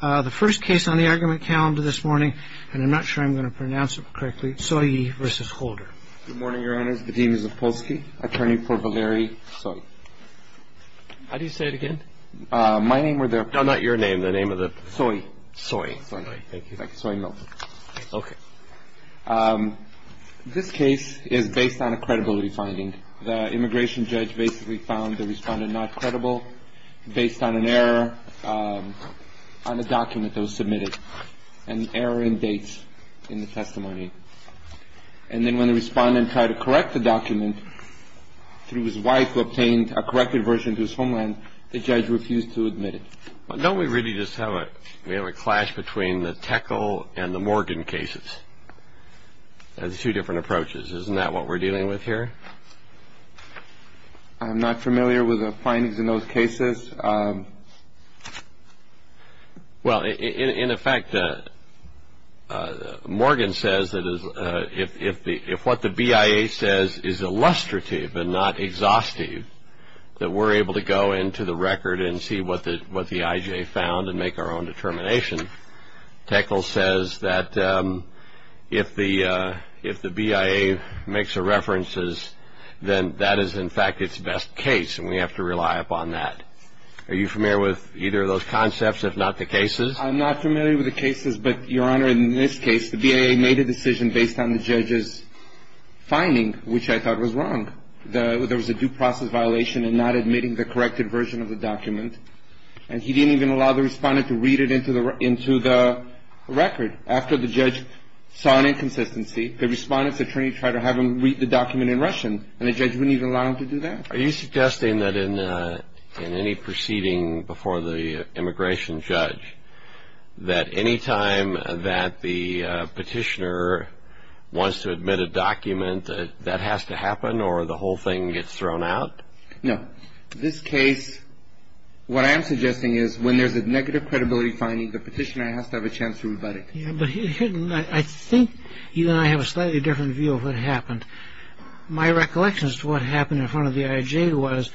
The first case on the argument calendar this morning, and I'm not sure I'm going to pronounce it correctly, Tsoyi v. Holder. Good morning, Your Honors. The deans of Polsky, attorney for Valeri Tsoyi. How do you say it again? My name or the. No, not your name. The name of the Tsoyi. Tsoyi. Thank you. Thank you, Tsoyi Milton. OK. This case is based on a credibility finding. The immigration judge basically found the respondent not credible based on an error. On a document that was submitted, an error in dates in the testimony. And then when the respondent tried to correct the document through his wife who obtained a corrected version to his homeland, the judge refused to admit it. Don't we really just have a we have a clash between the Tickle and the Morgan cases? There's two different approaches. Isn't that what we're dealing with here? I'm not familiar with the findings in those cases. Well, in effect, Morgan says that if the if what the BIA says is illustrative and not exhaustive, that we're able to go into the record and see what the what the IJ found and make our own determination. Tickle says that if the if the BIA makes a references, then that is, in fact, its best case. And we have to rely upon that. Are you familiar with either of those concepts, if not the cases? I'm not familiar with the cases. But, Your Honor, in this case, the BIA made a decision based on the judge's finding, which I thought was wrong. There was a due process violation and not admitting the corrected version of the document. And he didn't even allow the respondent to read it into the into the record. After the judge saw an inconsistency, the respondent's attorney tried to have him read the document in Russian. And the judge wouldn't even allow him to do that. Are you suggesting that in any proceeding before the immigration judge, that any time that the petitioner wants to admit a document that has to happen or the whole thing gets thrown out? No. This case, what I am suggesting is when there's a negative credibility finding, the petitioner has to have a chance to rebut it. But I think you and I have a slightly different view of what happened. My recollections to what happened in front of the IJ was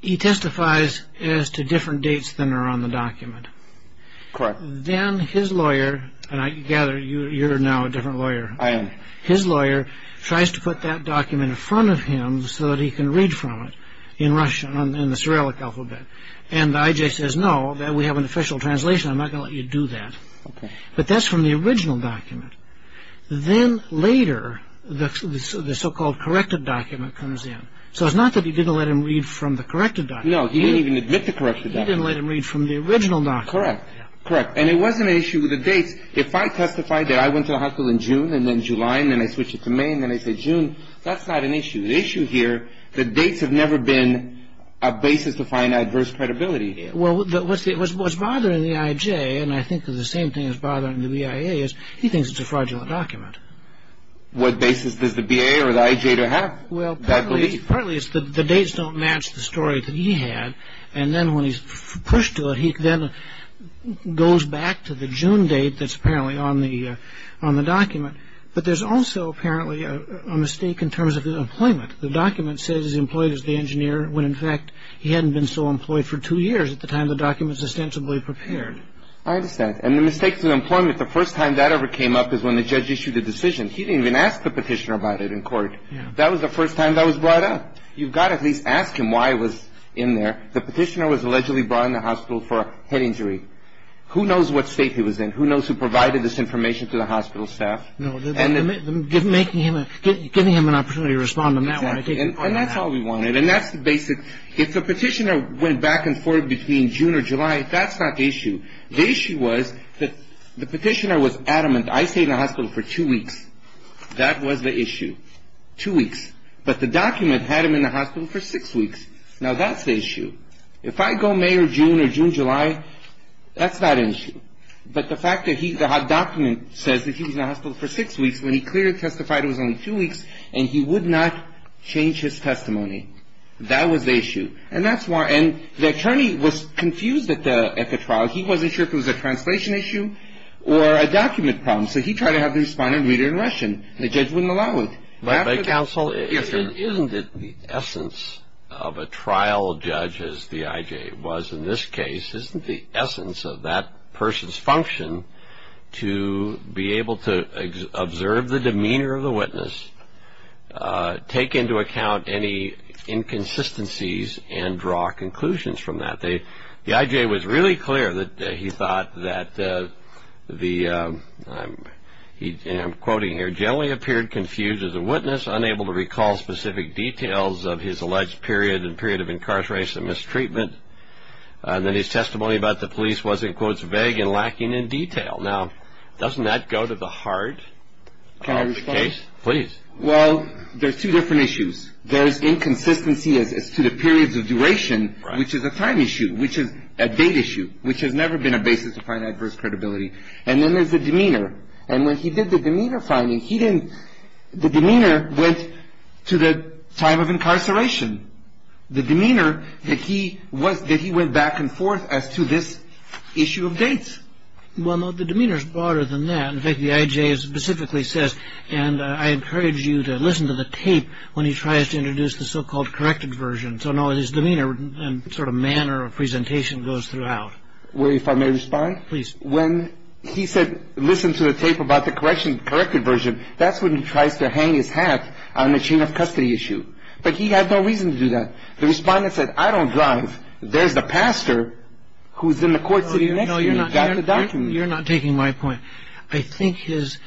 he testifies as to different dates than are on the document. Correct. Then his lawyer and I gather you're now a different lawyer. I am. His lawyer tries to put that document in front of him so that he can read from it in Russian, in the Cyrillic alphabet. And the IJ says, no, we have an official translation. I'm not going to let you do that. But that's from the original document. Then later, the so-called corrected document comes in. So it's not that he didn't let him read from the corrected document. No, he didn't even admit the corrected document. He didn't let him read from the original document. Correct. And it wasn't an issue with the dates. If I testified that I went to the hospital in June and then July and then I switched it to May and then I said June, that's not an issue. The issue here, the dates have never been a basis to find adverse credibility here. Well, what's bothering the IJ, and I think the same thing is bothering the BIA, is he thinks it's a fraudulent document. What basis does the BA or the IJ have to have that belief? Well, partly it's the dates don't match the story that he had. And then when he's pushed to it, he then goes back to the June date that's apparently on the document. But there's also apparently a mistake in terms of his employment. The document says he's employed as the engineer when, in fact, he hadn't been so employed for two years at the time the document was ostensibly prepared. I understand. And the mistakes in employment, the first time that ever came up is when the judge issued a decision. He didn't even ask the petitioner about it in court. That was the first time that was brought up. You've got to at least ask him why it was in there. The petitioner was allegedly brought in the hospital for a head injury. Who knows what state he was in? Who knows who provided this information to the hospital staff? No. Giving him an opportunity to respond on that one. Exactly. And that's all we wanted. And that's the basic. If the petitioner went back and forth between June or July, that's not the issue. The issue was that the petitioner was adamant. I stayed in the hospital for two weeks. That was the issue. Two weeks. But the document had him in the hospital for six weeks. Now, that's the issue. If I go May or June or June, July, that's not an issue. But the fact that the document says that he was in the hospital for six weeks when he clearly testified it was only two weeks and he would not change his testimony. That was the issue. And that's why. And the attorney was confused at the trial. He wasn't sure if it was a translation issue or a document problem. So he tried to have the respondent read it in Russian. The judge wouldn't allow it. Counsel, isn't it the essence of a trial judge, as the I.J. was in this case, isn't the essence of that person's function to be able to observe the demeanor of the witness, take into account any inconsistencies, and draw conclusions from that? The I.J. was really clear that he thought that the, and I'm quoting here, that he generally appeared confused as a witness, unable to recall specific details of his alleged period and period of incarceration and mistreatment, and that his testimony about the police was, in quotes, vague and lacking in detail. Now, doesn't that go to the heart of the case? Can I respond? Please. Well, there's two different issues. There's inconsistency as to the periods of duration, which is a time issue, which is a date issue, which has never been a basis to find adverse credibility. And then there's the demeanor. And when he did the demeanor finding, he didn't, the demeanor went to the time of incarceration. The demeanor, the key was that he went back and forth as to this issue of dates. Well, the demeanor's broader than that. In fact, the I.J. specifically says, and I encourage you to listen to the tape when he tries to introduce the so-called corrected version. So, no, his demeanor and sort of manner of presentation goes throughout. Well, if I may respond? Please. When he said, listen to the tape about the corrected version, that's when he tries to hang his hat on the chain of custody issue. But he had no reason to do that. The Respondent said, I don't drive. There's the pastor who's in the court sitting next to me. He's got the document. No, you're not taking my point. I think his,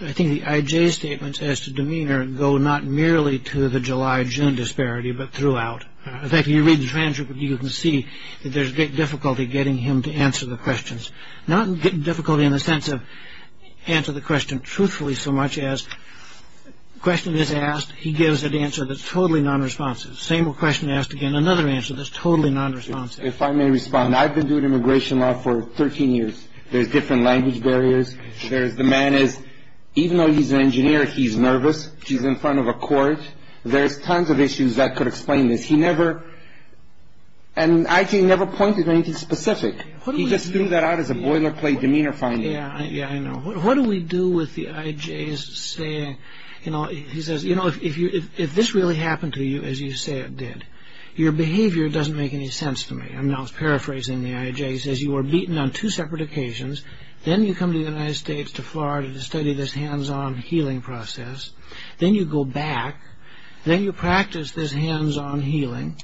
I think the I.J.'s statements as to demeanor go not merely to the July-June disparity, but throughout. In fact, if you read the transcript, you can see that there's difficulty getting him to answer the questions. Not difficulty in the sense of answer the question truthfully so much as question is asked, he gives an answer that's totally nonresponsive. Same question asked again, another answer that's totally nonresponsive. If I may respond, I've been doing immigration law for 13 years. There's different language barriers. There's the man is, even though he's an engineer, he's nervous. He's in front of a court. There's tons of issues that could explain this. He never, and I.J. never pointed to anything specific. He just threw that out as a boilerplate demeanor finding. Yeah, yeah, I know. What do we do with the I.J.'s saying, you know, he says, you know, if this really happened to you, as you say it did, your behavior doesn't make any sense to me. I'm now paraphrasing the I.J. He says you were beaten on two separate occasions. Then you come to the United States, to Florida, to study this hands-on healing process. Then you go back. Then you practice this hands-on healing.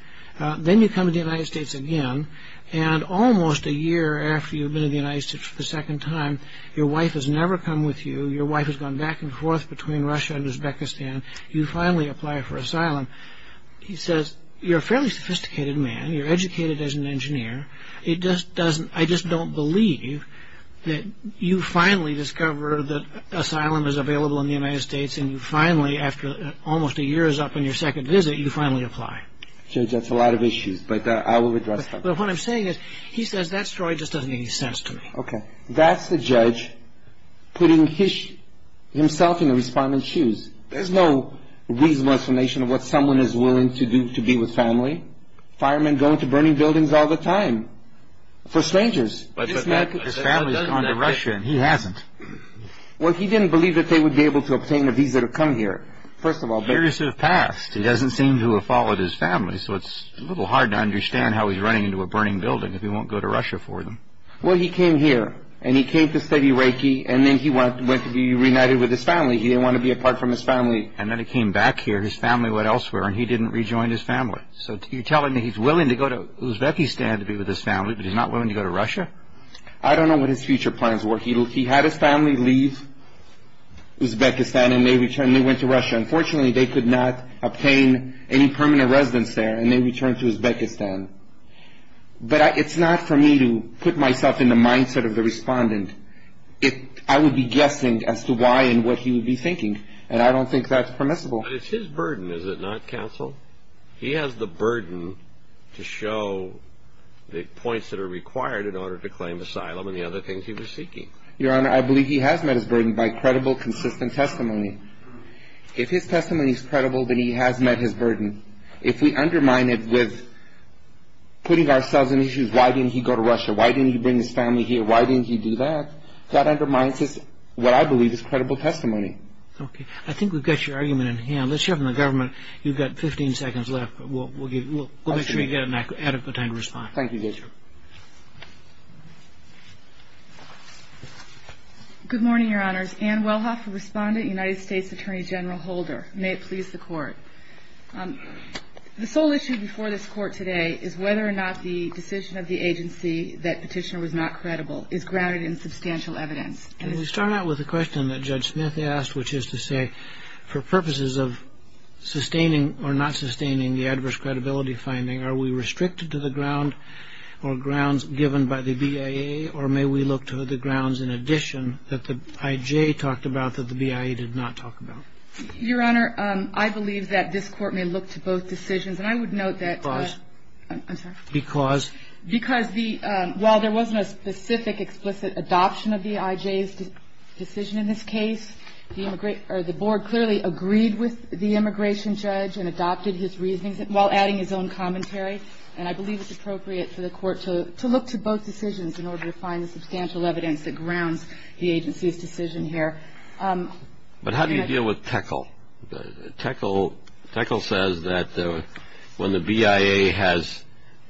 Then you come to the United States again. And almost a year after you've been in the United States for the second time, your wife has never come with you. Your wife has gone back and forth between Russia and Uzbekistan. You finally apply for asylum. He says you're a fairly sophisticated man. You're educated as an engineer. I just don't believe that you finally discover that asylum is available in the United States and you finally, after almost a year is up on your second visit, you finally apply. Judge, that's a lot of issues, but I will address them. But what I'm saying is he says that story just doesn't make any sense to me. Okay. That's the judge putting himself in the respondent's shoes. There's no reasonable explanation of what someone is willing to do to be with family. Firemen go into burning buildings all the time for strangers. But his family has gone to Russia, and he hasn't. Well, he didn't believe that they would be able to obtain a visa to come here, first of all. Years have passed. He doesn't seem to have followed his family, so it's a little hard to understand how he's running into a burning building if he won't go to Russia for them. Well, he came here, and he came to study Reiki, and then he went to be reunited with his family. He didn't want to be apart from his family. And then he came back here. His family went elsewhere, and he didn't rejoin his family. So you're telling me he's willing to go to Uzbekistan to be with his family, but he's not willing to go to Russia? I don't know what his future plans were. He had his family leave Uzbekistan, and they went to Russia. Unfortunately, they could not obtain any permanent residence there, and they returned to Uzbekistan. But it's not for me to put myself in the mindset of the respondent. I would be guessing as to why and what he would be thinking, and I don't think that's permissible. But it's his burden, is it not, counsel? He has the burden to show the points that are required in order to claim asylum and the other things he was seeking. Your Honor, I believe he has met his burden by credible, consistent testimony. If his testimony is credible, then he has met his burden. If we undermine it with putting ourselves in issues, why didn't he go to Russia, why didn't he bring his family here, why didn't he do that, that undermines what I believe is credible testimony. I think we've got your argument in hand. Let's hear from the government. You've got 15 seconds left, but we'll make sure you get an adequate time to respond. Thank you, Judge. Good morning, Your Honors. Ann Wellhoff, a respondent, United States Attorney General Holder. May it please the Court. The sole issue before this Court today is whether or not the decision of the agency that Petitioner was not credible is grounded in substantial evidence. Can we start out with a question that Judge Smith asked, which is to say, for purposes of sustaining or not sustaining the adverse credibility finding, are we restricted to the ground or grounds given by the BIA, or may we look to the grounds in addition that the I.J. talked about that the BIA did not talk about? Your Honor, I believe that this Court may look to both decisions. And I would note that... Because? I'm sorry? Because? Because while there wasn't a specific, explicit adoption of the I.J.'s decision in this case, the Board clearly agreed with the immigration judge and adopted his reasoning while adding his own commentary. And I believe it's appropriate for the Court to look to both decisions in order to find the substantial evidence that grounds the agency's decision here. Tekel says that when the BIA has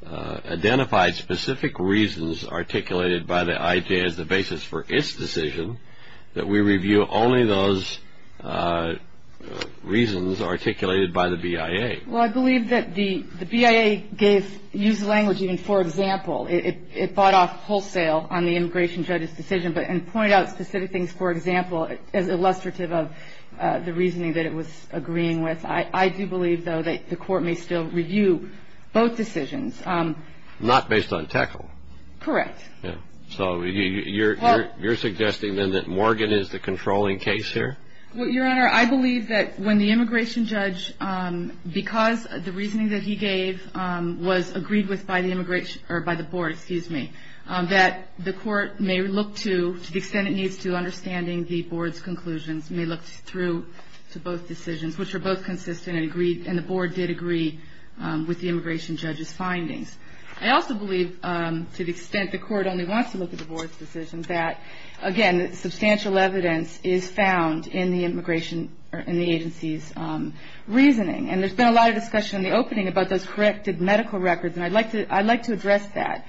identified specific reasons articulated by the I.J. as the basis for its decision, that we review only those reasons articulated by the BIA. Well, I believe that the BIA gave used language even for example. It bought off wholesale on the immigration judge's decision and pointed out specific things for example as illustrative of the reasoning that it was agreeing with. I do believe, though, that the Court may still review both decisions. Not based on Tekel? Correct. So you're suggesting then that Morgan is the controlling case here? Well, Your Honor, I believe that when the immigration judge, because the reasoning that he gave was agreed with by the immigration or by the Board, excuse me, that the Court may look to, to the extent it needs to, understanding the Board's conclusions, may look through to both decisions, which are both consistent and agreed, and the Board did agree with the immigration judge's findings. I also believe, to the extent the Court only wants to look at the Board's decisions, that, again, substantial evidence is found in the agency's reasoning. And there's been a lot of discussion in the opening about those corrected medical records, and I'd like to address that.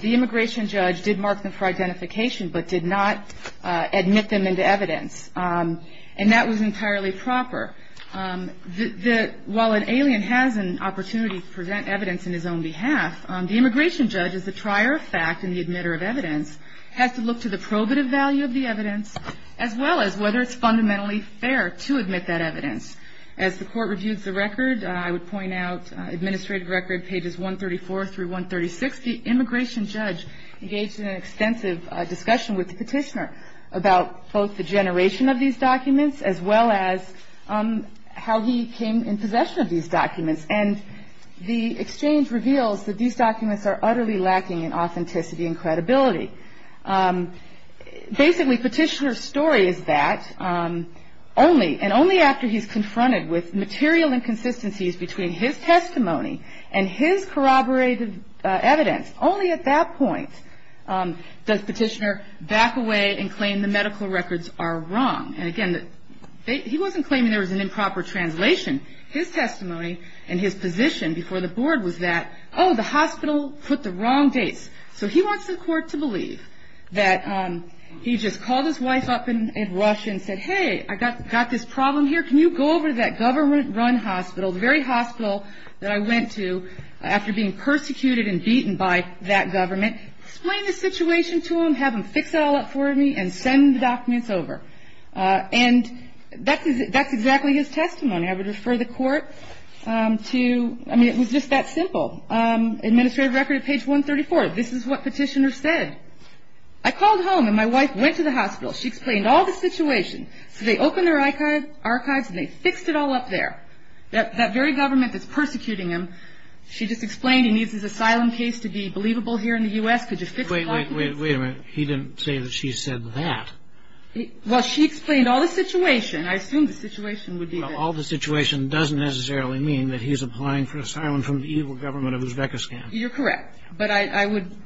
The immigration judge did mark them for identification, but did not admit them into evidence. And that was entirely proper. While an alien has an opportunity to present evidence in his own behalf, the immigration judge is the trier of fact and the admitter of evidence, has to look to the probative value of the evidence, as well as whether it's fundamentally fair to admit that evidence. As the Court reviews the record, I would point out, administrative record, pages 134 through 136, the immigration judge engaged in an extensive discussion with the petitioner about both the generation of these documents, as well as how he came in possession of these documents. And the exchange reveals that these documents are utterly lacking in authenticity and credibility. Basically, petitioner's story is that only, and only after he's confronted with material inconsistencies between his testimony and his corroborated evidence, only at that point does petitioner back away and claim the medical records are wrong. And, again, he wasn't claiming there was an improper translation. His testimony and his position before the Board was that, oh, the hospital put the wrong dates. So he wants the Court to believe that he just called his wife up and rushed and said, hey, I've got this problem here. Can you go over to that government-run hospital, the very hospital that I went to, after being persecuted and beaten by that government, explain the situation to him, have him fix it all up for me, and send the documents over. And that's exactly his testimony. I would refer the Court to, I mean, it was just that simple. Administrative record at page 134. This is what petitioner said. I called home, and my wife went to the hospital. She explained all the situation. So they opened their archives, and they fixed it all up there. That very government that's persecuting him, she just explained he needs his asylum case to be believable here in the U.S. Could you fix the documents? Wait, wait, wait a minute. He didn't say that she said that. Well, she explained all the situation. I assumed the situation would be that. All the situation doesn't necessarily mean that he's applying for asylum from the evil government of Uzbekistan. You're correct. But I would ‑‑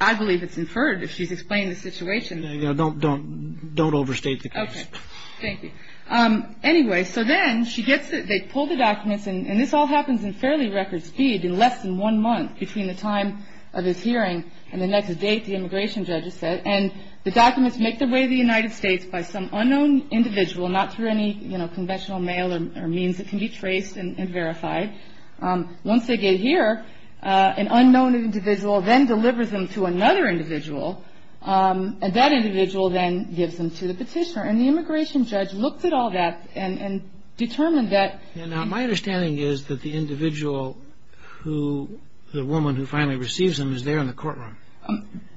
I believe it's inferred if she's explained the situation. Don't overstate the case. Okay. Thank you. Anyway, so then she gets it. They pull the documents, and this all happens in fairly record speed, in less than one month between the time of his hearing and the next date, the immigration judge has said. And the documents make their way to the United States by some unknown individual, not through any conventional mail or means that can be traced and verified. Once they get here, an unknown individual then delivers them to another individual, and that individual then gives them to the petitioner. And the immigration judge looks at all that and determined that ‑‑ Now, my understanding is that the individual who the woman who finally receives them is there in the courtroom.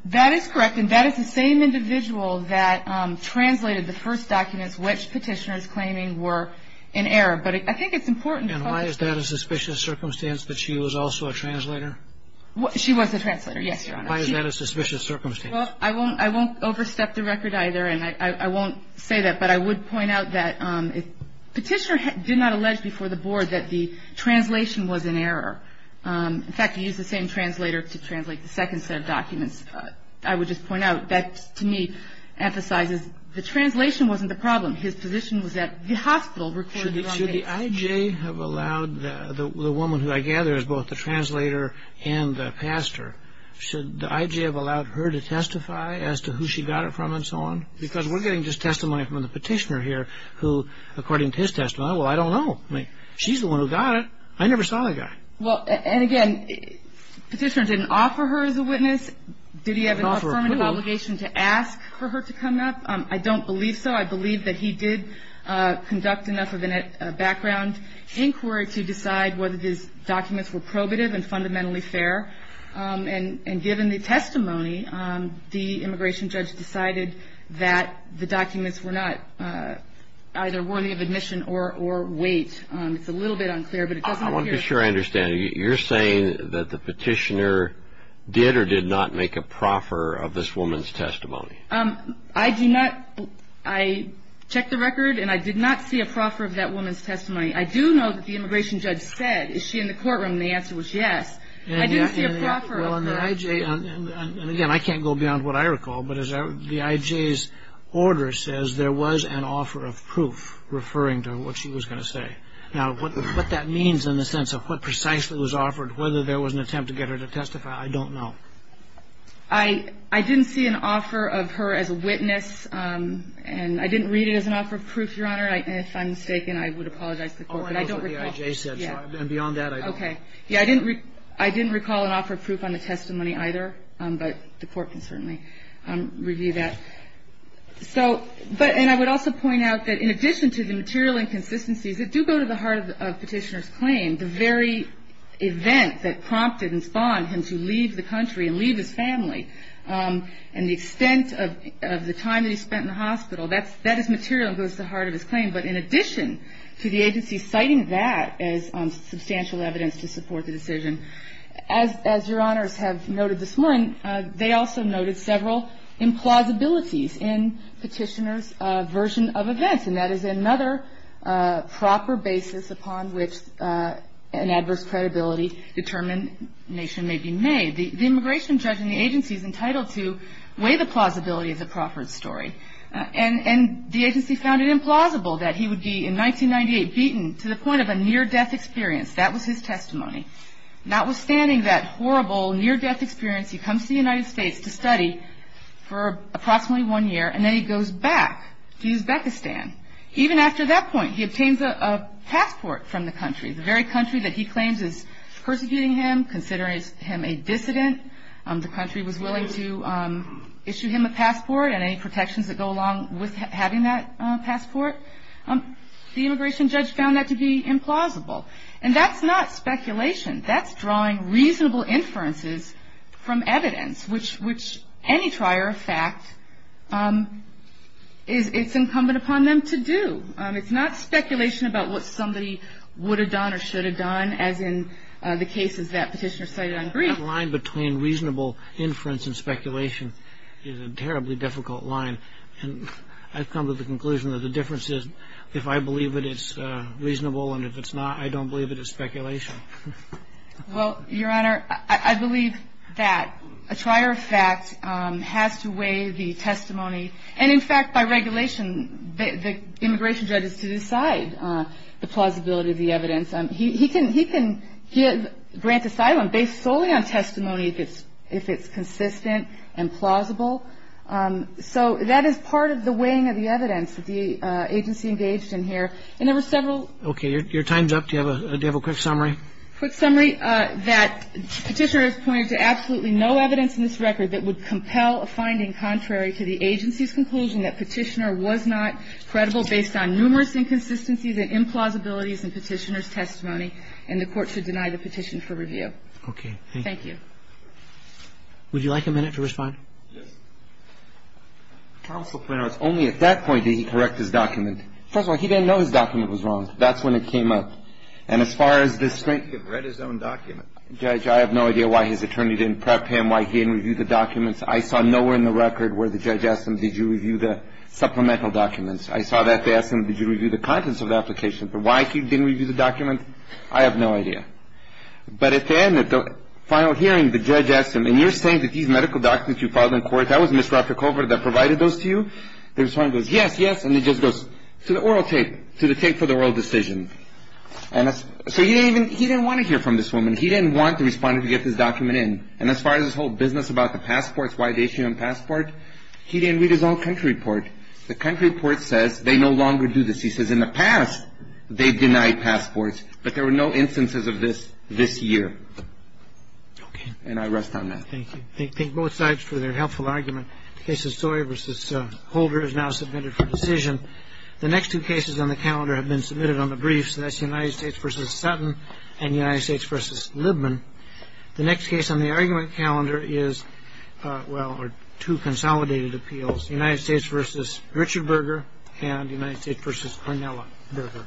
That is correct, and that is the same individual that translated the first documents which Petitioner is claiming were in error. But I think it's important to focus on ‑‑ And why is that a suspicious circumstance that she was also a translator? She was a translator, yes, Your Honor. Why is that a suspicious circumstance? Well, I won't overstep the record either, and I won't say that, but I would point out that Petitioner did not allege before the board that the translation was in error. In fact, he used the same translator to translate the second set of documents. I would just point out that to me emphasizes the translation wasn't the problem. His position was that the hospital recorded the wrong case. Should the IJ have allowed the woman who I gather is both the translator and the pastor, should the IJ have allowed her to testify as to who she got it from and so on? Because we're getting just testimony from the petitioner here who, according to his testimony, well, I don't know. I mean, she's the one who got it. I never saw that guy. Well, and again, Petitioner didn't offer her as a witness. Did he have an affirmative obligation to ask for her to come up? I don't believe so. I believe that he did conduct enough of a background inquiry to decide whether these documents were probative and fundamentally fair, and given the testimony, the immigration judge decided that the documents were not either worthy of admission or weight. It's a little bit unclear, but it doesn't appear. I want to be sure I understand. You're saying that the petitioner did or did not make a proffer of this woman's testimony? I do not. I checked the record, and I did not see a proffer of that woman's testimony. I do know that the immigration judge said, is she in the courtroom? And the answer was yes. I didn't see a proffer of that. And again, I can't go beyond what I recall, but as the I.J.'s order says, there was an offer of proof referring to what she was going to say. Now, what that means in the sense of what precisely was offered, whether there was an attempt to get her to testify, I don't know. I didn't see an offer of her as a witness, and I didn't read it as an offer of proof, Your Honor. If I'm mistaken, I would apologize to the Court. Oh, I know what the I.J. said, and beyond that, I don't. Okay. Yeah, I didn't recall an offer of proof on the testimony either, but the Court can certainly. review that. So, but, and I would also point out that in addition to the material inconsistencies, it do go to the heart of Petitioner's claim, the very event that prompted and spawned him to leave the country and leave his family, and the extent of the time that he spent in the hospital, that is material and goes to the heart of his claim. But in addition to the agency citing that as substantial evidence to support the decision, as Your Honors have noted this morning, they also noted several implausibilities in Petitioner's version of events, and that is another proper basis upon which an adverse credibility determination may be made. The immigration judge in the agency is entitled to weigh the plausibility of the Crawford story, and the agency found it implausible that he would be, in 1998, beaten to the point of a near-death experience. That was his testimony. Notwithstanding that horrible near-death experience, he comes to the United States to study for approximately one year, and then he goes back to Uzbekistan. Even after that point, he obtains a passport from the country, the very country that he claims is persecuting him, considering him a dissident. The country was willing to issue him a passport, and any protections that go along with having that passport, the immigration judge found that to be implausible. And that's not speculation. That's drawing reasonable inferences from evidence, which any trier of fact, it's incumbent upon them to do. It's not speculation about what somebody would have done or should have done, as in the cases that Petitioner cited on grief. The line between reasonable inference and speculation is a terribly difficult line, and I've come to the conclusion that the difference is, if I believe it, it's reasonable, and if it's not, I don't believe it is speculation. Well, Your Honor, I believe that a trier of fact has to weigh the testimony. And, in fact, by regulation, the immigration judge is to decide the plausibility of the evidence. He can grant asylum based solely on testimony if it's consistent and plausible. So that is part of the weighing of the evidence that the agency engaged in here. And there were several. Okay. Your time's up. Do you have a quick summary? A quick summary that Petitioner has pointed to absolutely no evidence in this record that would compel a finding contrary to the agency's conclusion that Petitioner was not credible based on numerous inconsistencies and implausibilities in Petitioner's testimony, and the Court should deny the petition for review. Okay. Thank you. Would you like a minute to respond? Yes. Counsel, it's only at that point did he correct his document. First of all, he didn't know his document was wrong. That's when it came up. And as far as this thing, he had read his own document. Judge, I have no idea why his attorney didn't prep him, why he didn't review the documents. I saw nowhere in the record where the judge asked him, did you review the supplemental documents. I saw that they asked him, did you review the contents of the application, but why he didn't review the documents, I have no idea. But at the end, at the final hearing, the judge asked him, and you're saying that these medical documents you filed in court, that was Ms. Ravchukova that provided those to you? The respondent goes, yes, yes. And he just goes, to the oral tape, to the tape for the oral decision. So he didn't want to hear from this woman. He didn't want the respondent to get this document in. And as far as this whole business about the passports, why they issue him a passport, he didn't read his own country report. The country report says they no longer do this. He says in the past they denied passports, but there were no instances of this this year. Okay. And I rest on that. Thank you. Thank both sides for their helpful argument. The case of Sawyer v. Holder is now submitted for decision. The next two cases on the calendar have been submitted on the briefs, and that's United States v. Sutton and United States v. Libman. The next case on the argument calendar is, well, are two consolidated appeals, United States v. Richard Berger and United States v. Cornella Berger.